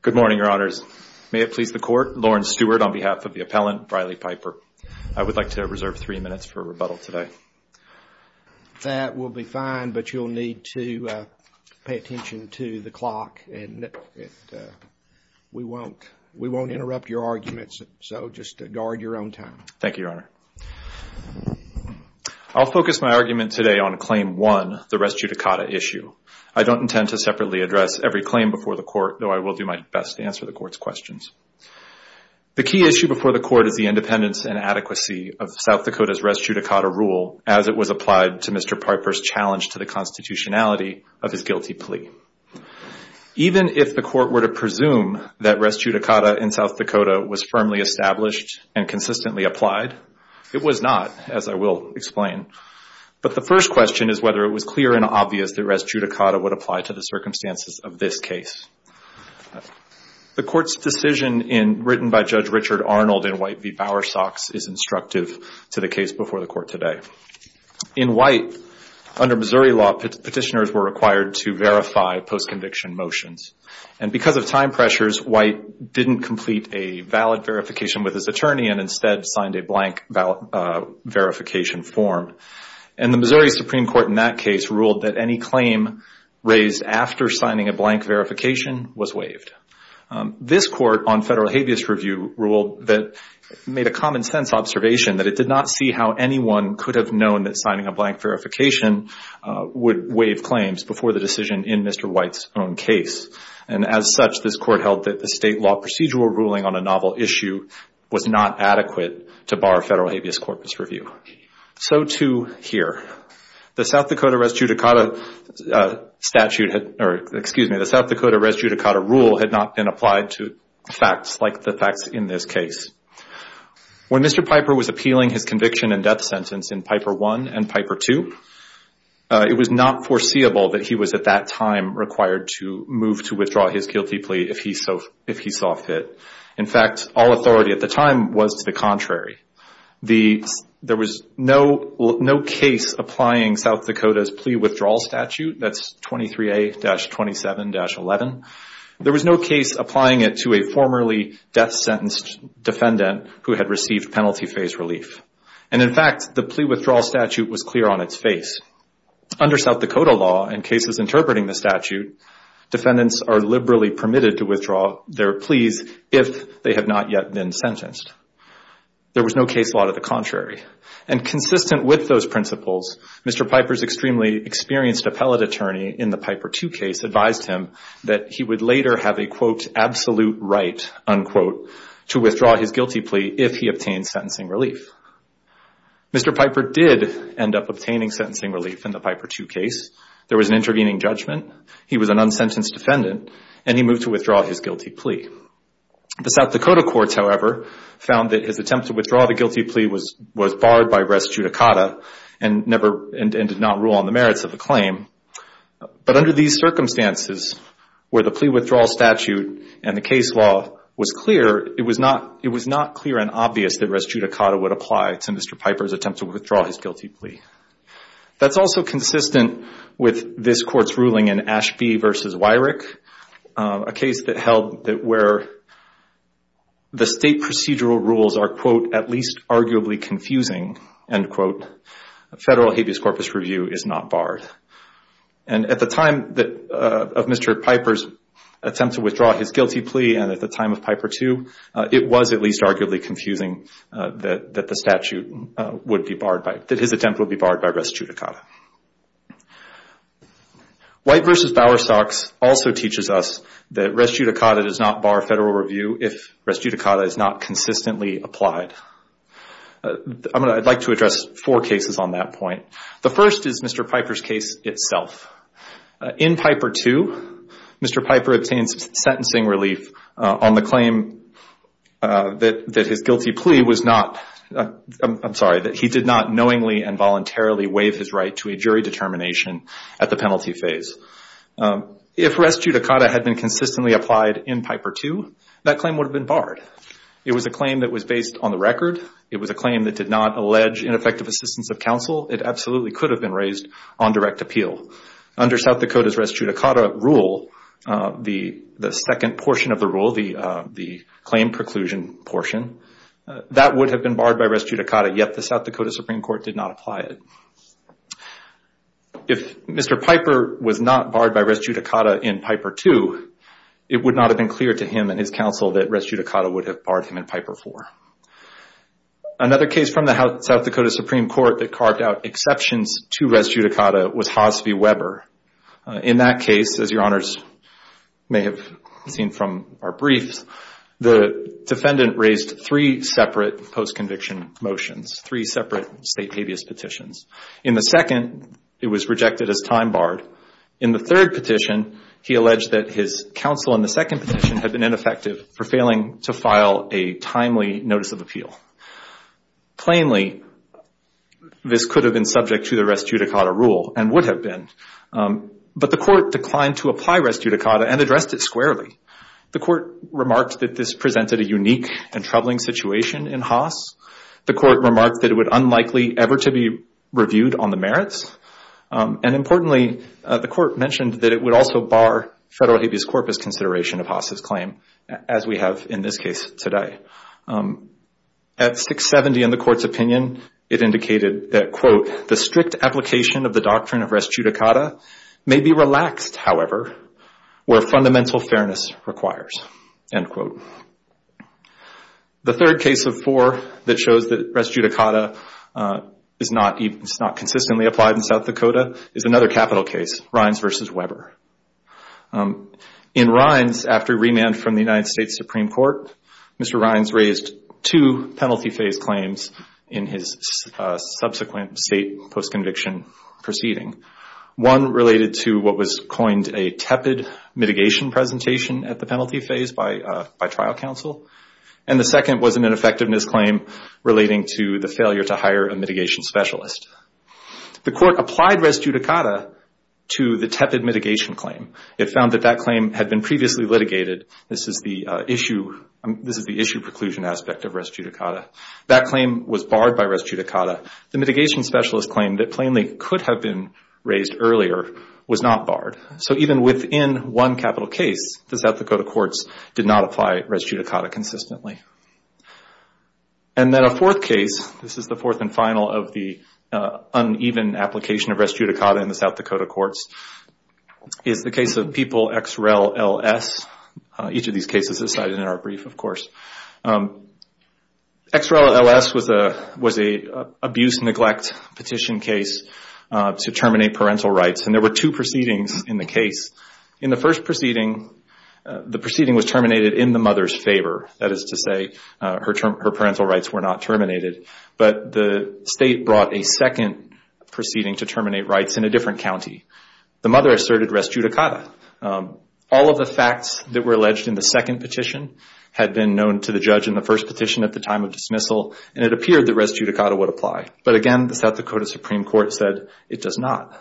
Good morning, Your Honors. May it please the Court, Lauren Stewart on behalf of the appellant Riley Piper. I would like to reserve three minutes for rebuttal today. That will be fine, but you'll need to pay attention to the clock and we won't interrupt your arguments, so just guard your own time. Thank you, Your Honor. I'll focus my argument today on Claim 1, the res judicata issue. I don't intend to separately address every claim before the Court, though I will do my best to answer the Court's questions. The key issue before the Court is the independence and adequacy of South Dakota's res judicata rule as it was applied to Mr. Piper's challenge to the constitutionality of his guilty plea. Even if the Court were to presume that res judicata in South Dakota was firmly established and consistently applied, it was not, as I will explain. But the first question is whether it was clear and obvious that res judicata would apply to the circumstances of this case. The Court's decision written by Judge Richard Arnold in White v. Bowersox is instructive to the case before the Court today. In White, under Missouri law, petitioners were required to verify post-conviction motions, and because of time pressures, White didn't complete a valid verification with his attorney and instead signed a blank verification form. And the Missouri Supreme Court in that case ruled that any claim raised after signing a blank verification was waived. This Court on Federal Habeas Review ruled that it made a common-sense observation that it did not see how anyone could have known that signing a blank verification would waive claims before the decision in Mr. White's own case. And as such, this Court held that the state law procedural ruling on a novel issue was not adequate to bar Federal Habeas Corpus Review. So too here. The South Dakota res judicata statute, or excuse me, the South Dakota res judicata rule had not been applied to facts like the facts in this case. When Mr. Piper was appealing his conviction and death sentence in Piper I and Piper II, it was not foreseeable that he was at that time required to move to withdraw his guilty plea if he saw fit. In fact, all authority at the time was to the contrary. There was no case applying South Dakota's plea withdrawal statute, that's 23A-27-11. There was no case applying it to a formerly death-sentenced defendant who had received penalty phase relief. And in fact, the plea withdrawal statute was clear on its face. Under South Dakota law, in cases interpreting the statute, defendants are liberally permitted to withdraw their pleas if they have not yet been sentenced. There was no case law to the contrary. And consistent with those principles, Mr. Piper's extremely experienced appellate attorney in the Piper II case advised him that he would later have a quote, absolute right, unquote, to withdraw his guilty plea if he obtained sentencing relief. Mr. Piper did end up obtaining sentencing relief in the Piper II case. There was an intervening judgment. He was an unsentenced defendant and he moved to withdraw his guilty plea. The South Dakota courts, however, found that his attempt to withdraw the guilty plea was barred by res judicata and did not rule on the merits of the claim. But under these circumstances, where the plea withdrawal statute and the case law was clear, it was not clear and obvious that res judicata would apply to Mr. Piper's attempt to withdraw his guilty plea. That's also consistent with this court's ruling in Ashby v. Wyrick, a case that held that where the state procedural rules are quote, at least arguably confusing, end quote, federal habeas corpus review is not barred. At the time of Mr. Piper's attempt to withdraw his guilty plea and at the time of Piper II, it was at least arguably confusing that the statute would be barred by, that his attempt would be barred by res judicata. White v. Bowerstocks also teaches us that res judicata does not bar federal review if res judicata is not consistently applied. I'd like to address four cases on that point. The first is Mr. Piper's case itself. In Piper II, Mr. Piper obtains sentencing relief on the claim that his guilty plea was not, I'm sorry, that he did not knowingly and voluntarily waive his right to a jury determination at the penalty phase. If res judicata had been consistently applied in Piper II, that claim would have been barred. It was a claim that was based on the record. It was a claim that did not allege ineffective assistance of counsel. It absolutely could have been raised on direct appeal. Under South Dakota's res judicata rule, the second portion of the rule, the claim preclusion portion, that would have been barred by res judicata, yet the South Dakota Supreme Court did not apply it. If Mr. Piper was not barred by res judicata in Piper II, it would not have been clear to him and his counsel that res judicata would have barred him in Piper IV. Another case from the South Dakota Supreme Court that carved out exceptions to res judicata was Hoss v. Weber. In that case, as your honors may have seen from our briefs, the defendant raised three separate post-conviction motions, three separate state habeas petitions. In the second, it was rejected as time barred. In the third petition, he alleged that his counsel in the second petition had been ineffective for failing to file a timely notice of appeal. Plainly, this could have been subject to the res judicata rule and would have been, but the court declined to apply res judicata and addressed it squarely. The court remarked that this presented a unique and troubling situation in Hoss. The court remarked that it would unlikely ever to be reviewed on the merits. Importantly, the court mentioned that it would also bar federal habeas corpus consideration of Hoss' claim, as we have in this case today. At 670 in the court's opinion, it indicated that, quote, the strict application of the doctrine of res judicata may be relaxed, however, where fundamental fairness requires, end quote. The third case of four that shows that res judicata is not consistently applied in South Dakota is another capital case, Rines v. Weber. In Rines, after remand from the United States Supreme Court, Mr. Rines raised two penalty phase claims in his subsequent state post-conviction proceeding. One related to what was coined a tepid mitigation presentation at the penalty phase by trial counsel, and the second was an ineffectiveness claim relating to the failure to hire a mitigation specialist. The court applied res judicata to the tepid mitigation claim. It found that that claim had been previously litigated. This is the issue preclusion aspect of res judicata. That claim was barred by res judicata. The mitigation specialist claimed that plainly could have been raised earlier was not barred. Even within one capital case, the South Dakota courts did not apply res judicata consistently. Then a fourth case, this is the fourth and final of the uneven application of res judicata in the South Dakota courts, is the case of People x Rel L S. Each of these cases is cited in our brief, of course. x Rel L S was an abuse neglect petition case to terminate parental rights. There were two proceedings in the case. In the first proceeding, the proceeding was terminated in the mother's favor. That is to say, her parental rights were not terminated. But the state brought a second proceeding to terminate rights in a different county. The mother asserted res judicata. All of the facts that were alleged in the second petition had been known to the judge in the first petition at the time of dismissal, and it appeared that res judicata would apply. But again, the South Dakota Supreme Court said it does not.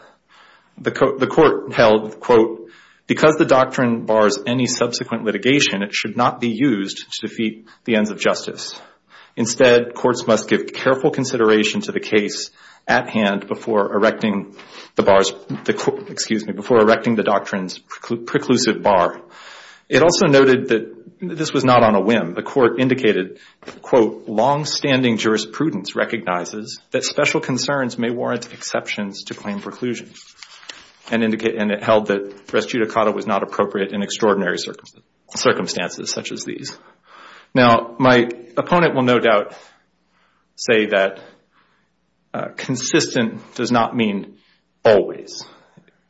The court held, quote, because the doctrine bars any subsequent litigation, it should not be used to defeat the ends of justice. Instead, courts must give careful consideration to the case at hand before erecting the doctrines preclusive bar. It also noted that this was not on a whim. The court indicated, quote, longstanding jurisprudence recognizes that special concerns may warrant exceptions to claim preclusion. And it held that res judicata was not appropriate in extraordinary circumstances such as these. Now, my opponent will no doubt say that consistent does not mean always.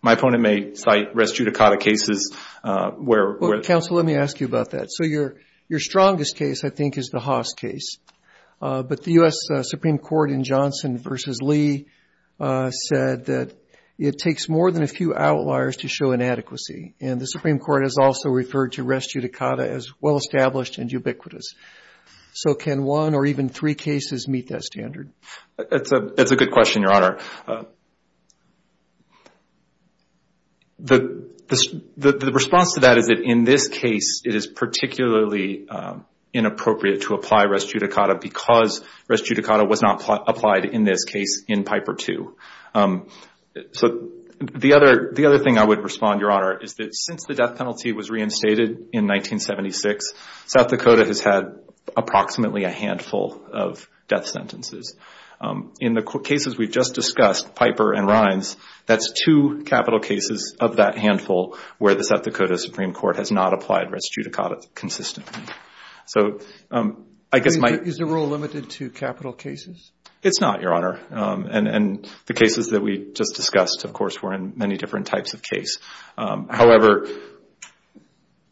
My opponent may cite res judicata cases where... Counsel, let me ask you about that. So your strongest case, I think, is the Haas case. But the U.S. Supreme Court in Johnson v. Lee said that it takes more than a few outliers to show inadequacy. And the Supreme Court has also referred to res judicata as well-established and ubiquitous. So can one or even three cases meet that standard? That's a good question, Your Honor. The response to that is that in this case, it is particularly inappropriate to apply res judicata because res judicata was not applied in this case in Piper II. So the other thing I would respond, Your Honor, is that since the death penalty was reinstated in 1976, South Dakota has had approximately a handful of death sentences. In the cases we've just discussed, Piper and Rhines, that's two capital cases of that handful where the South Dakota Supreme Court has not applied res judicata consistently. So I guess my... Is the rule limited to capital cases? It's not, Your Honor. And the cases that we just discussed, of course, were in many different types of case. However,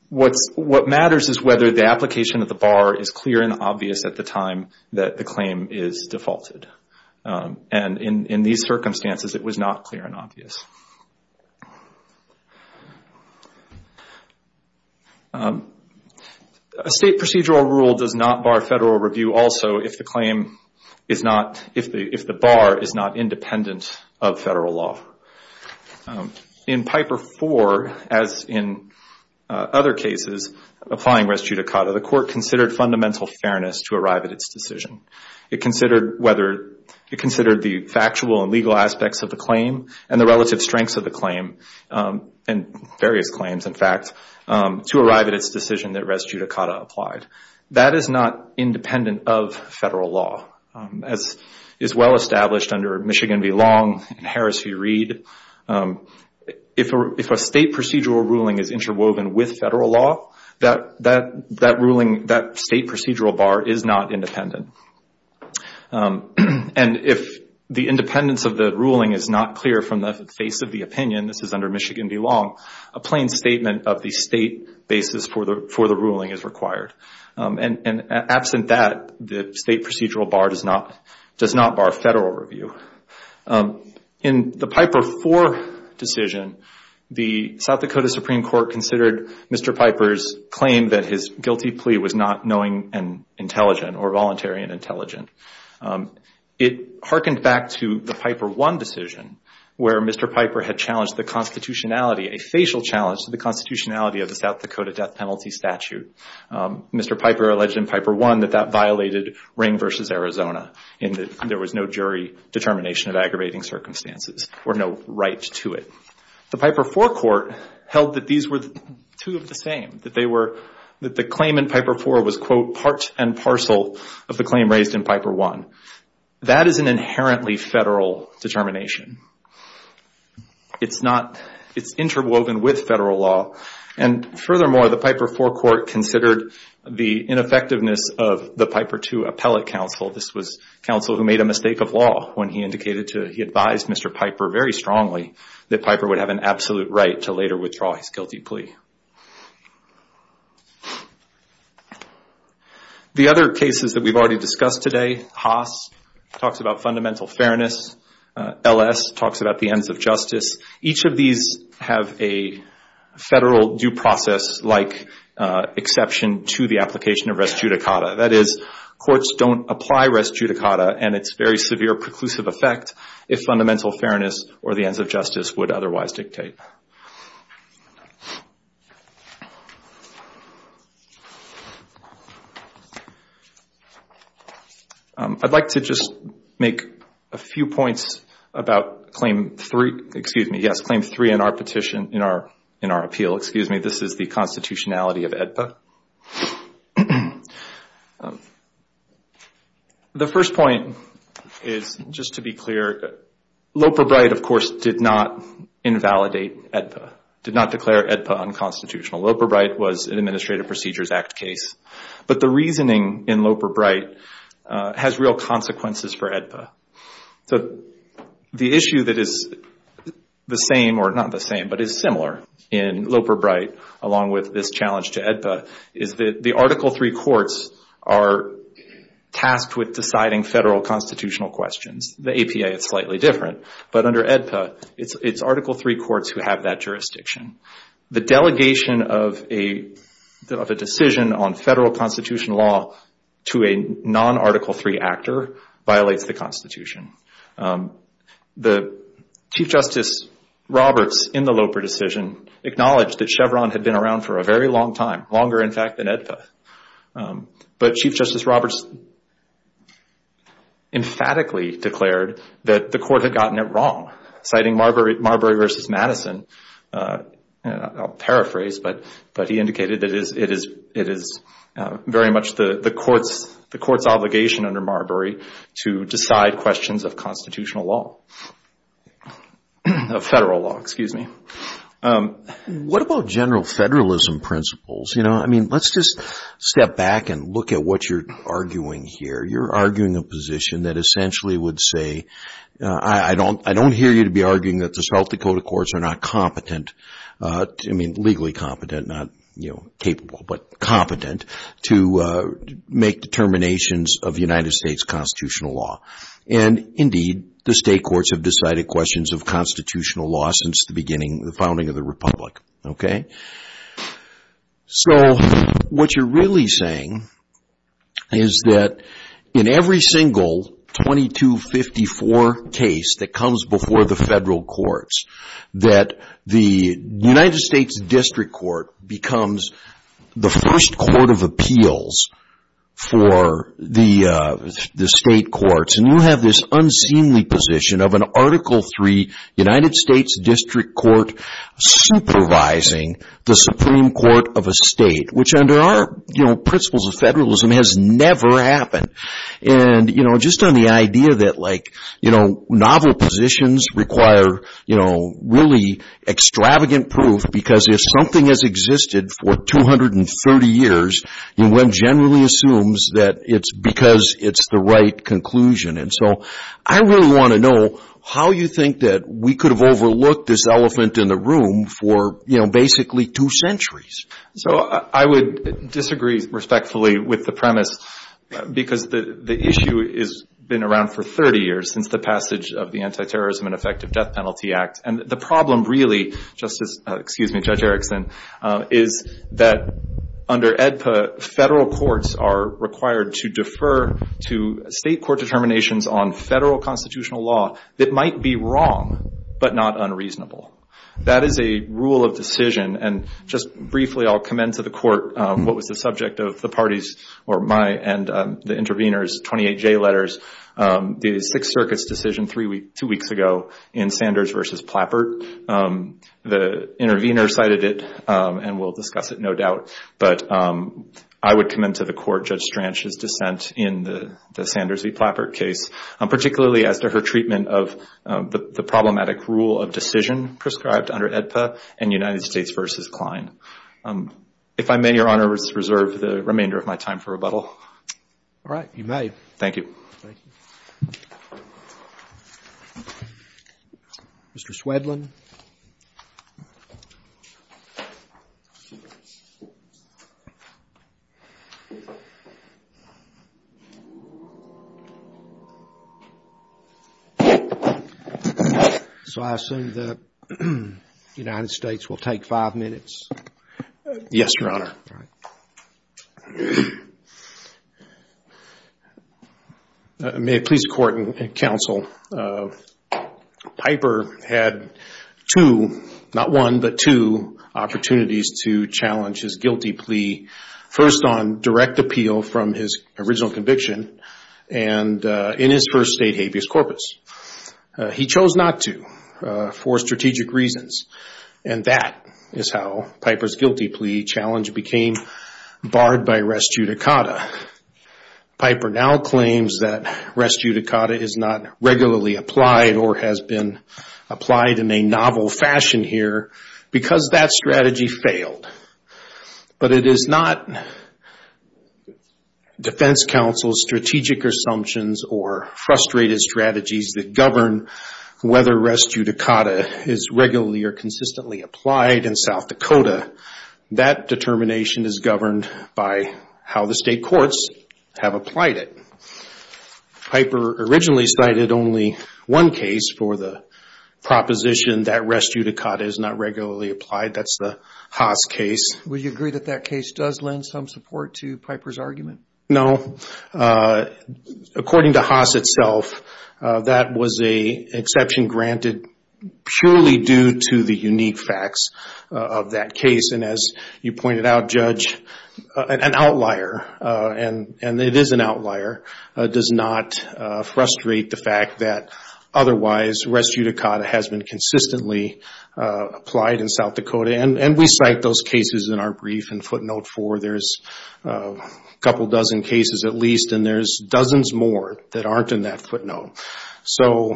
what matters is whether the application of the bar is clear and obvious at the time that the claim is defaulted. And in these circumstances, it was not clear and obvious. A state procedural rule does not bar federal review also if the claim is not... If the bar is not independent of federal law. In Piper IV, as in other cases applying res judicata, the court considered fundamental fairness to arrive at its decision. It considered whether... It considered the factual and legal aspects of the claim and the relative strengths of the claim and various claims, in fact, to arrive at its decision that res judicata applied. That is not independent of federal law. As is well established under Michigan v. Long and Harris v. Reed, if a state procedural ruling is interwoven with federal law, that state procedural bar is not independent. And if the independence of the ruling is not clear from the face of the opinion, this is under Michigan v. Long, a plain statement of the state basis for the ruling is required. And absent that, the state procedural bar does not bar federal review. In the Piper IV decision, the South Dakota Supreme Court considered Mr. Piper's claim that his guilty plea was not knowing and intelligent or voluntary and intelligent. It hearkened back to the Piper I decision where Mr. Piper had challenged the constitutionality, a facial challenge to the constitutionality of the South Dakota death penalty statute. Mr. Piper alleged in Piper I that that violated Ring v. Arizona in that there was no jury determination of aggravating circumstances or no right to it. The Piper IV court held that these were two of the same, that the claim in Piper IV was, quote, part and parcel of the claim raised in Piper I. That is an inherently federal determination. It's interwoven with federal law and furthermore, the Piper IV court considered the ineffectiveness of the Piper II appellate counsel. This was counsel who made a mistake of law when he indicated to, he advised Mr. Piper very strongly that Piper would have an absolute right to later withdraw his guilty plea. The other cases that we've already discussed today, Haas talks about fundamental fairness, LS talks about the ends of justice. Each of these have a federal due process like exception to the application of res judicata. That is, courts don't apply res judicata and it's very severe preclusive effect if fundamental fairness or the ends of justice would otherwise dictate. I'd like to just make a few points about Claim 3, excuse me. Yes, Claim 3 in our petition, in our appeal, excuse me. This is the constitutionality of AEDPA. The first point is just to be clear, Loper-Bright, of course, did not invalidate AEDPA, did not declare AEDPA unconstitutional. Loper-Bright was an Administrative Procedures Act case. But the reasoning in Loper-Bright has real consequences for AEDPA. So the issue that is the same, or not the same, but is similar in Loper-Bright, along with this challenge to AEDPA, is that the Article 3 courts are tasked with deciding federal constitutional questions. The APA is slightly different. But under AEDPA, it's Article 3 courts who have that jurisdiction. The delegation of a decision on federal constitutional law to a non-Article 3 actor violates the Constitution. The Chief Justice Roberts, in the Loper decision, acknowledged that Chevron had been around for a very long time, longer, in fact, than AEDPA. But Chief Justice Roberts emphatically declared that the court had gotten it wrong, citing Marbury v. Madison. I'll paraphrase, but he indicated that it is very much the court's obligation under Marbury to decide questions of constitutional law, of federal law, excuse me. What about general federalism principles? You know, I mean, let's just step back and look at what you're arguing here. You're arguing a position that essentially would say, I don't hear you to be arguing that the South Dakota courts are not competent, I mean, legally competent, not, you know, capable, but competent to make determinations of the United States constitutional law. And indeed, the state courts have decided questions of constitutional law since the beginning, the founding of the Republic, okay? So, what you're really saying is that in every single 2254 case that comes before the federal courts, that the United States District Court becomes the first court of appeals for the state courts. And you have this unseemly position of an Article III United States District Court, supervising the Supreme Court of a state, which under our, you know, principles of federalism has never happened. And, you know, just on the idea that, like, you know, novel positions require, you know, really extravagant proof, because if something has existed for 230 years, one generally assumes that it's because it's the right conclusion. And so, I really want to know how you think that we could have overlooked this elephant in the room for, you know, basically two centuries. So, I would disagree respectfully with the premise, because the issue has been around for 30 years, since the passage of the Antiterrorism and Effective Death Penalty Act. And the problem really, Justice, excuse me, Judge Erickson, is that under AEDPA, federal courts are required to defer to state court determinations on federal constitutional law that might be wrong, but not unreasonable. That is a rule of decision. And just briefly, I'll commend to the Court what was the subject of the party's, or my and the intervener's 28-J letters, the Sixth Circuit's decision two weeks ago in Sanders v. Plappert. The intervener cited it, and we'll discuss it, no doubt. But I would commend to the Court Judge Stranch's dissent in the Sanders v. Plappert case, particularly as to her treatment of the problematic rule of decision prescribed under AEDPA and United States v. Klein. If I may, Your Honor, reserve the remainder of my time for rebuttal. All right, you may. Thank you. Thank you. Mr. Swedlund. So I assume that United States will take five minutes? Yes, Your Honor. May it please the Court and counsel, Piper had two, not one, but two opportunities to challenge his guilty plea, first on direct appeal from his original conviction, and in his first state habeas corpus. He chose not to for strategic reasons, and that is how Piper's guilty plea challenge became barred by res judicata. Piper now claims that res judicata is not regularly applied or has been applied in a But it is not defense counsel's strategic assumptions or frustrated strategies that govern whether res judicata is regularly or consistently applied in South Dakota. That determination is governed by how the state courts have applied it. Piper originally cited only one case for the proposition that res judicata is not regularly applied, that's the Haas case. Would you agree that that case does lend some support to Piper's argument? No. According to Haas itself, that was an exception granted purely due to the unique facts of that case. And as you pointed out, Judge, an outlier, and it is an outlier, does not frustrate the fact that otherwise res judicata has been consistently applied in South Dakota. And we cite those cases in our brief and footnote for there's a couple dozen cases at least, and there's dozens more that aren't in that footnote. So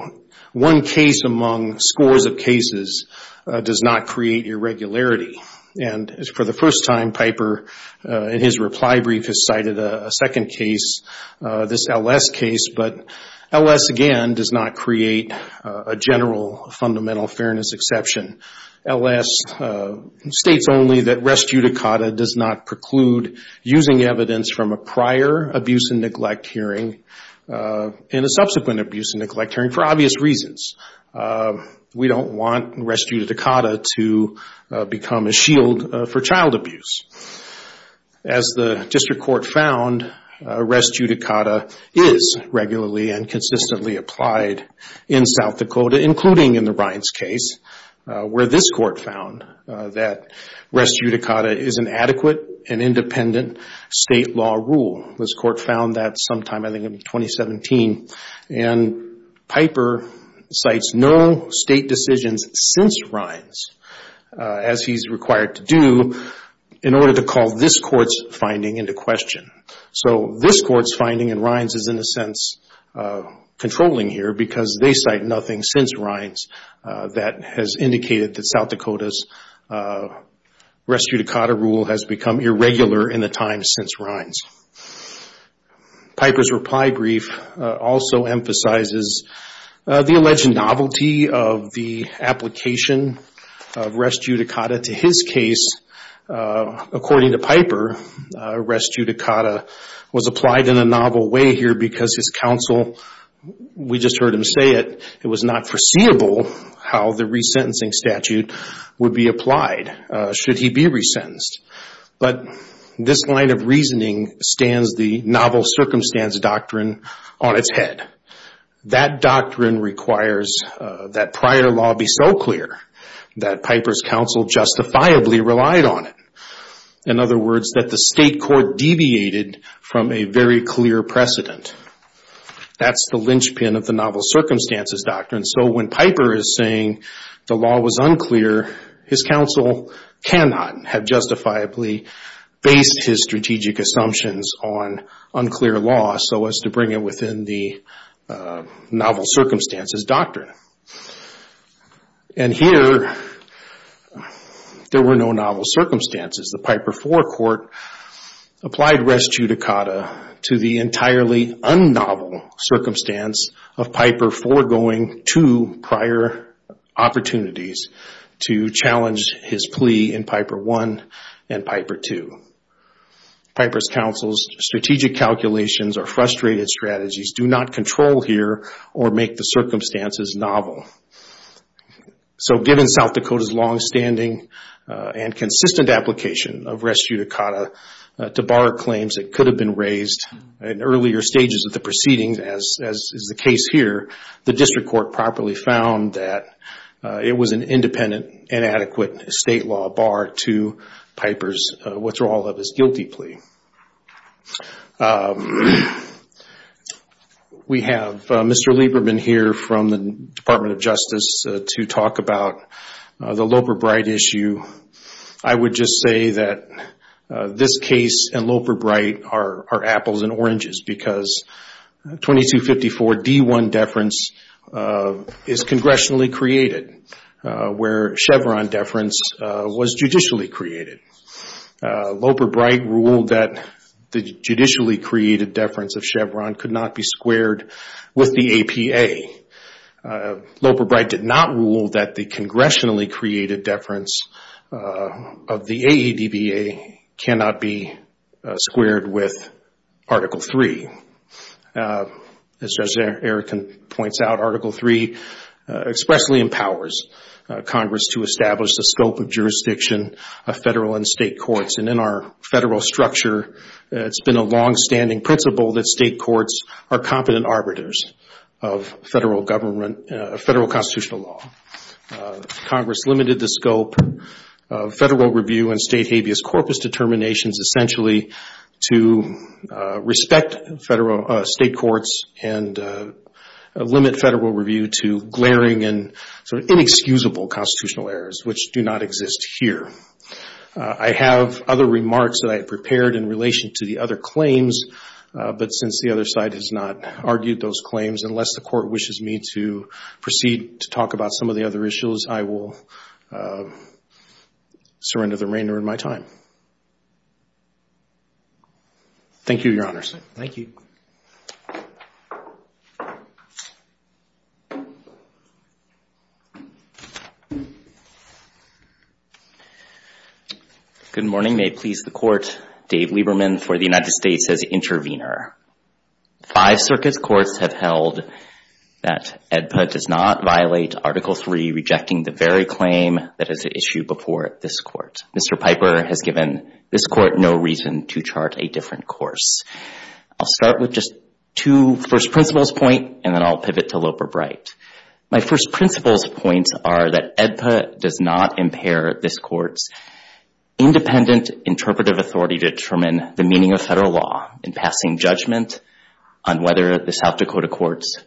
one case among scores of cases does not create irregularity. And for the first time, Piper in his reply brief has cited a second case, this LS case, but LS again does not create a general fundamental fairness exception. LS states only that res judicata does not preclude using evidence from a prior abuse and neglect hearing and a subsequent abuse and neglect hearing for obvious reasons. We don't want res judicata to become a shield for child abuse. As the district court found, res judicata is regularly and consistently applied in South Dakota, including in the Rines case, where this court found that res judicata is an adequate and independent state law rule. This court found that sometime I think in 2017. And Piper cites no state decisions since Rines, as he's required to do, in order to call this court's finding into question. So this court's finding in Rines is in a sense controlling here because they cite nothing since Rines that has indicated that South Dakota's res judicata rule has become irregular in the time since Rines. Piper's reply brief also emphasizes the alleged novelty of the application of res judicata to his case. According to Piper, res judicata was applied in a novel way here because his counsel, we just heard him say it, it was not foreseeable how the resentencing statute would be applied should he be resentenced. But this line of reasoning stands the novel circumstance doctrine on its head. That doctrine requires that prior law be so clear that Piper's counsel justifiably relied on it. In other words, that the state court deviated from a very clear precedent. That's the linchpin of the novel circumstances doctrine. So when Piper is saying the law was unclear, his counsel cannot have justifiably based his strategic assumptions on unclear law so as to bring it within the novel circumstances doctrine. And here, there were no novel circumstances. The Piper IV court applied res judicata to the entirely un-novel circumstance of Piper foregoing two prior opportunities to challenge his plea in Piper I and Piper II. Piper's counsel's strategic calculations or frustrated strategies do not control here or make the circumstances novel. So given South Dakota's longstanding and consistent application of res judicata to bar claims that could have been raised in earlier stages of the proceedings, as is the case here, the district court properly found that it was an independent and adequate state law bar to Piper's withdrawal of his guilty plea. We have Mr. Lieberman here from the Department of Justice to talk about the Loper-Bright issue. I would just say that this case and Loper-Bright are apples and oranges because 2254 D1 deference is congressionally created, where Chevron deference was judicially created. Loper-Bright ruled that the judicially created deference of Chevron could not be squared with the APA. Loper-Bright did not rule that the congressionally created deference of the AEDBA cannot be squared with Article III. As Judge Erickson points out, Article III expressly empowers Congress to establish the scope of jurisdiction of federal and state courts. And in our federal structure, it's been a longstanding principle that state courts are competent arbiters of federal constitutional law. Congress limited the scope of federal review and state habeas corpus determinations essentially to respect state courts and limit federal review to glaring and inexcusable constitutional errors, which do not exist here. I have other remarks that I have prepared in relation to the other claims, but since the other side has not argued those claims, unless the court wishes me to proceed to talk about some of the other issues, I will surrender the remainder of my time. Thank you, Your Honors. Thank you. Good morning. May it please the Court, Dave Lieberman for the United States as Intervenor. Five circuits courts have held that AEDBA does not violate Article III, rejecting the very claim that is issued before this Court. Mr. Piper has given this Court no reason to chart a different course. I'll start with just two first principles points, and then I'll pivot to Loper-Bright. My first principles points are that AEDBA does not impair this Court's independent interpretive authority to determine the meaning of federal law in passing judgment on whether the South Dakota Court's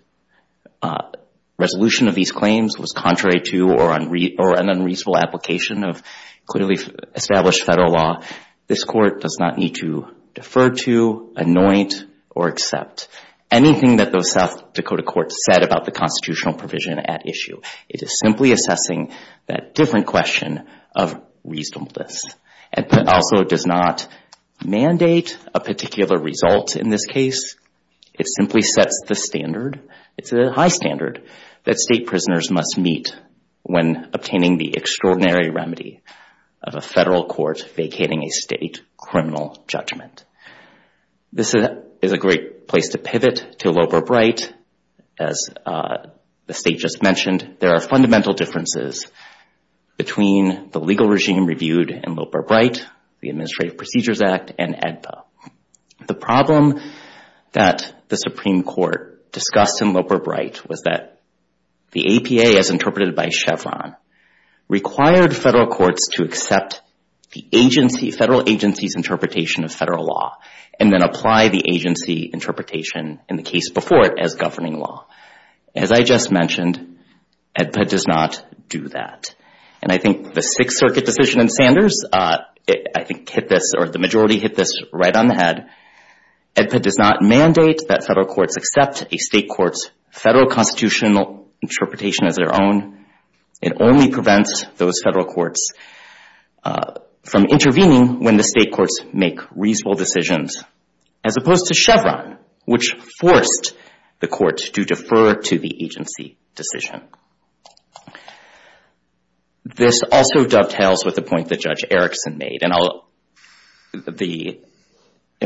resolution of these claims was contrary to or an unreasonable application of clearly established federal law. This Court does not need to defer to, anoint, or accept anything that those South Dakota courts said about the constitutional provision at issue. It is simply assessing that different question of reasonableness. It also does not mandate a particular result in this case. It simply sets the standard. It's a high standard that state prisoners must meet when obtaining the extraordinary remedy of a federal court vacating a state criminal judgment. This is a great place to pivot to Loper-Bright. As the State just mentioned, there are fundamental differences between the legal regime reviewed in Loper-Bright, the Administrative Procedures Act, and AEDBA. The problem that the Supreme Court discussed in Loper-Bright was that the APA, as interpreted by Chevron, required federal courts to accept the agency, federal agency's interpretation of federal law, and then apply the agency interpretation in the case before it as governing law. As I just mentioned, AEDBA does not do that. And I think the Sixth Circuit decision in Sanders hit this, or the majority hit this, right on the head. AEDBA does not mandate that federal courts accept a state court's federal constitutional interpretation as their own. It only prevents those federal courts from intervening when the state courts make reasonable decisions, as opposed to Chevron, which forced the court to defer to the agency decision. This also dovetails with a point that Judge Erickson made. And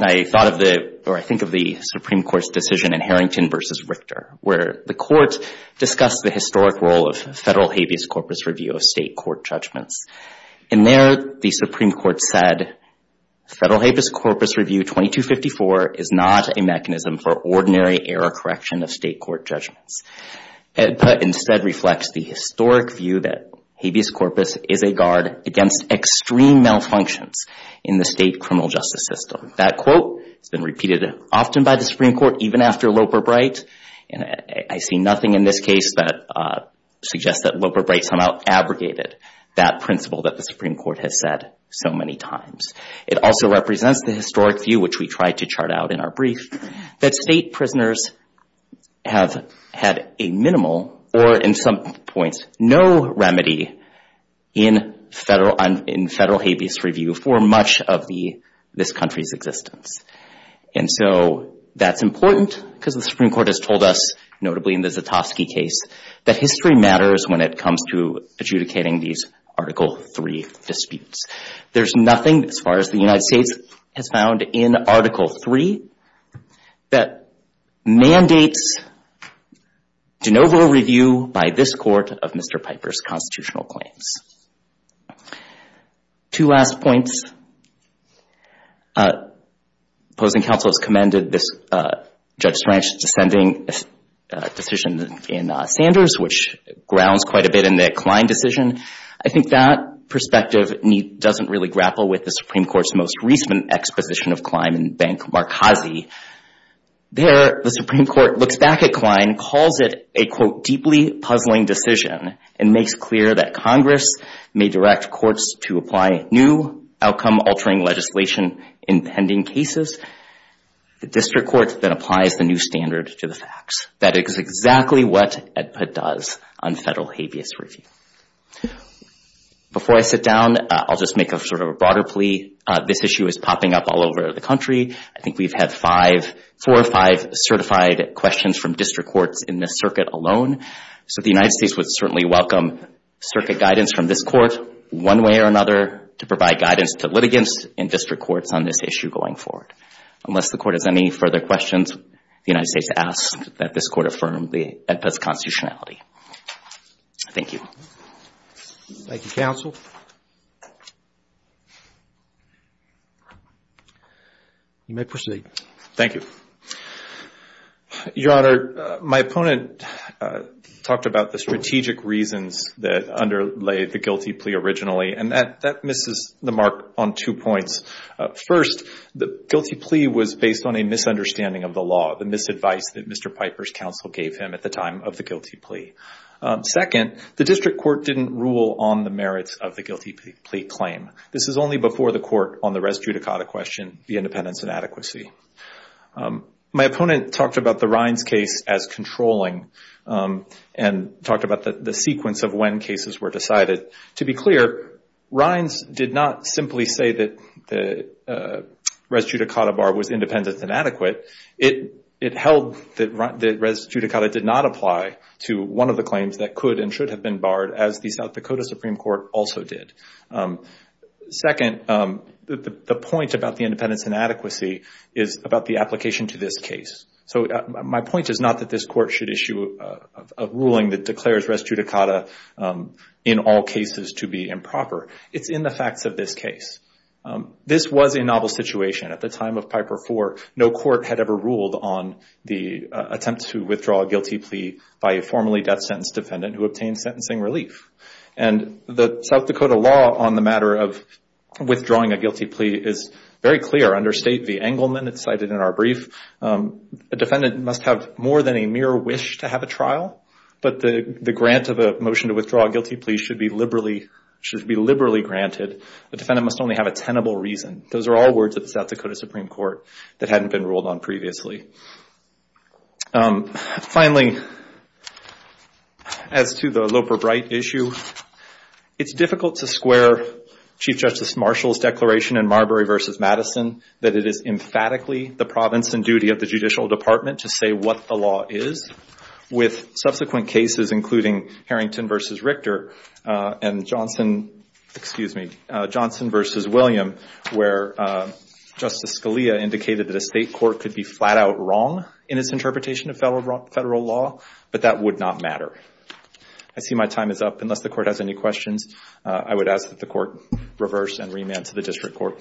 I thought of the, or I think of the Supreme Court's decision in Harrington v. Richter, where the court discussed the historic role of federal habeas corpus review of state court judgments. And there, the Supreme Court said, federal habeas corpus review 2254 is not a mechanism for ordinary error correction of state court judgments. AEDBA instead reflects the historic view that habeas corpus is a guard against extreme malfunctions in the state criminal justice system. That quote has been repeated often by the Supreme Court, even after Loper-Bright. And I see nothing in this case that suggests that Loper-Bright somehow abrogated that principle that the Supreme Court has said so many times. It also represents the historic view, which we tried to chart out in our brief, that state prisoners have had a minimal, or in some points, no remedy in federal habeas review for much of this country's existence. And so that's important, because the Supreme Court has told us, notably in the Zatofsky case, that history matters when it comes to adjudicating these Article III disputes. There's nothing, as far as the United States has found, in Article III that mandates de novo review by this Court of Mr. Piper's constitutional claims. Two last points. Opposing counsel has commended this Judge Strange's dissenting decision in Sanders, which grounds quite a bit in the Kline decision. I think that perspective doesn't really grapple with the Supreme Court's most recent exposition of Kline in Benk-Marcazzi. There, the Supreme Court looks back at Kline, calls it a, quote, deeply puzzling decision, and makes clear that Congress may direct courts to apply new, outgoing, and altering legislation in pending cases. The district court then applies the new standard to the facts. That is exactly what AEDPA does on federal habeas review. Before I sit down, I'll just make a sort of a broader plea. This issue is popping up all over the country. I think we've had four or five certified questions from district courts in this circuit alone. So the United States would certainly welcome circuit guidance from this court, one way or another, to provide guidance to litigants and district courts on this issue going forward. Unless the court has any further questions, the United States asks that this court affirm the AEDPA's constitutionality. Thank you. Thank you, counsel. You may proceed. Thank you. Your Honor, my opponent talked about the strategic reasons that underlay the guilty plea originally. That misses the mark on two points. First, the guilty plea was based on a misunderstanding of the law, the misadvice that Mr. Piper's counsel gave him at the time of the guilty plea. Second, the district court didn't rule on the merits of the guilty plea claim. This is only before the court on the res judicata question, the independence and adequacy. My opponent talked about the Rines case as controlling and talked about the sequence of when cases were decided. To be clear, Rines did not simply say that the res judicata bar was independent and adequate. It held that res judicata did not apply to one of the claims that could and should have been barred, as the South Dakota Supreme Court also did. Second, the point about the independence and adequacy is about the application to this case. My point is not that this court should issue a ruling that declares res judicata in all cases to be improper. It's in the facts of this case. This was a novel situation. At the time of Piper IV, no court had ever ruled on the attempt to withdraw a guilty plea by a formerly death sentence defendant who obtained sentencing relief. The South Dakota law on the matter of withdrawing a guilty plea is very clear. Under state v. Engelman, it's cited in our brief, a defendant must have more than a mere wish to have a trial, but the grant of a motion to withdraw a guilty plea should be liberally granted. The defendant must only have a tenable reason. Those are all words of the South Dakota Supreme Court that hadn't been ruled on previously. Finally, as to the Loper-Bright issue, it's difficult to square Chief Justice Marshall's declaration in Marbury v. Madison that it is emphatically the province and duty of the with subsequent cases including Harrington v. Richter and Johnson v. William, where Justice Scalia indicated that a state court could be flat out wrong in its interpretation of federal law, but that would not matter. I see my time is up. Unless the court has any questions, I would ask that the court reverse and remand to the district court.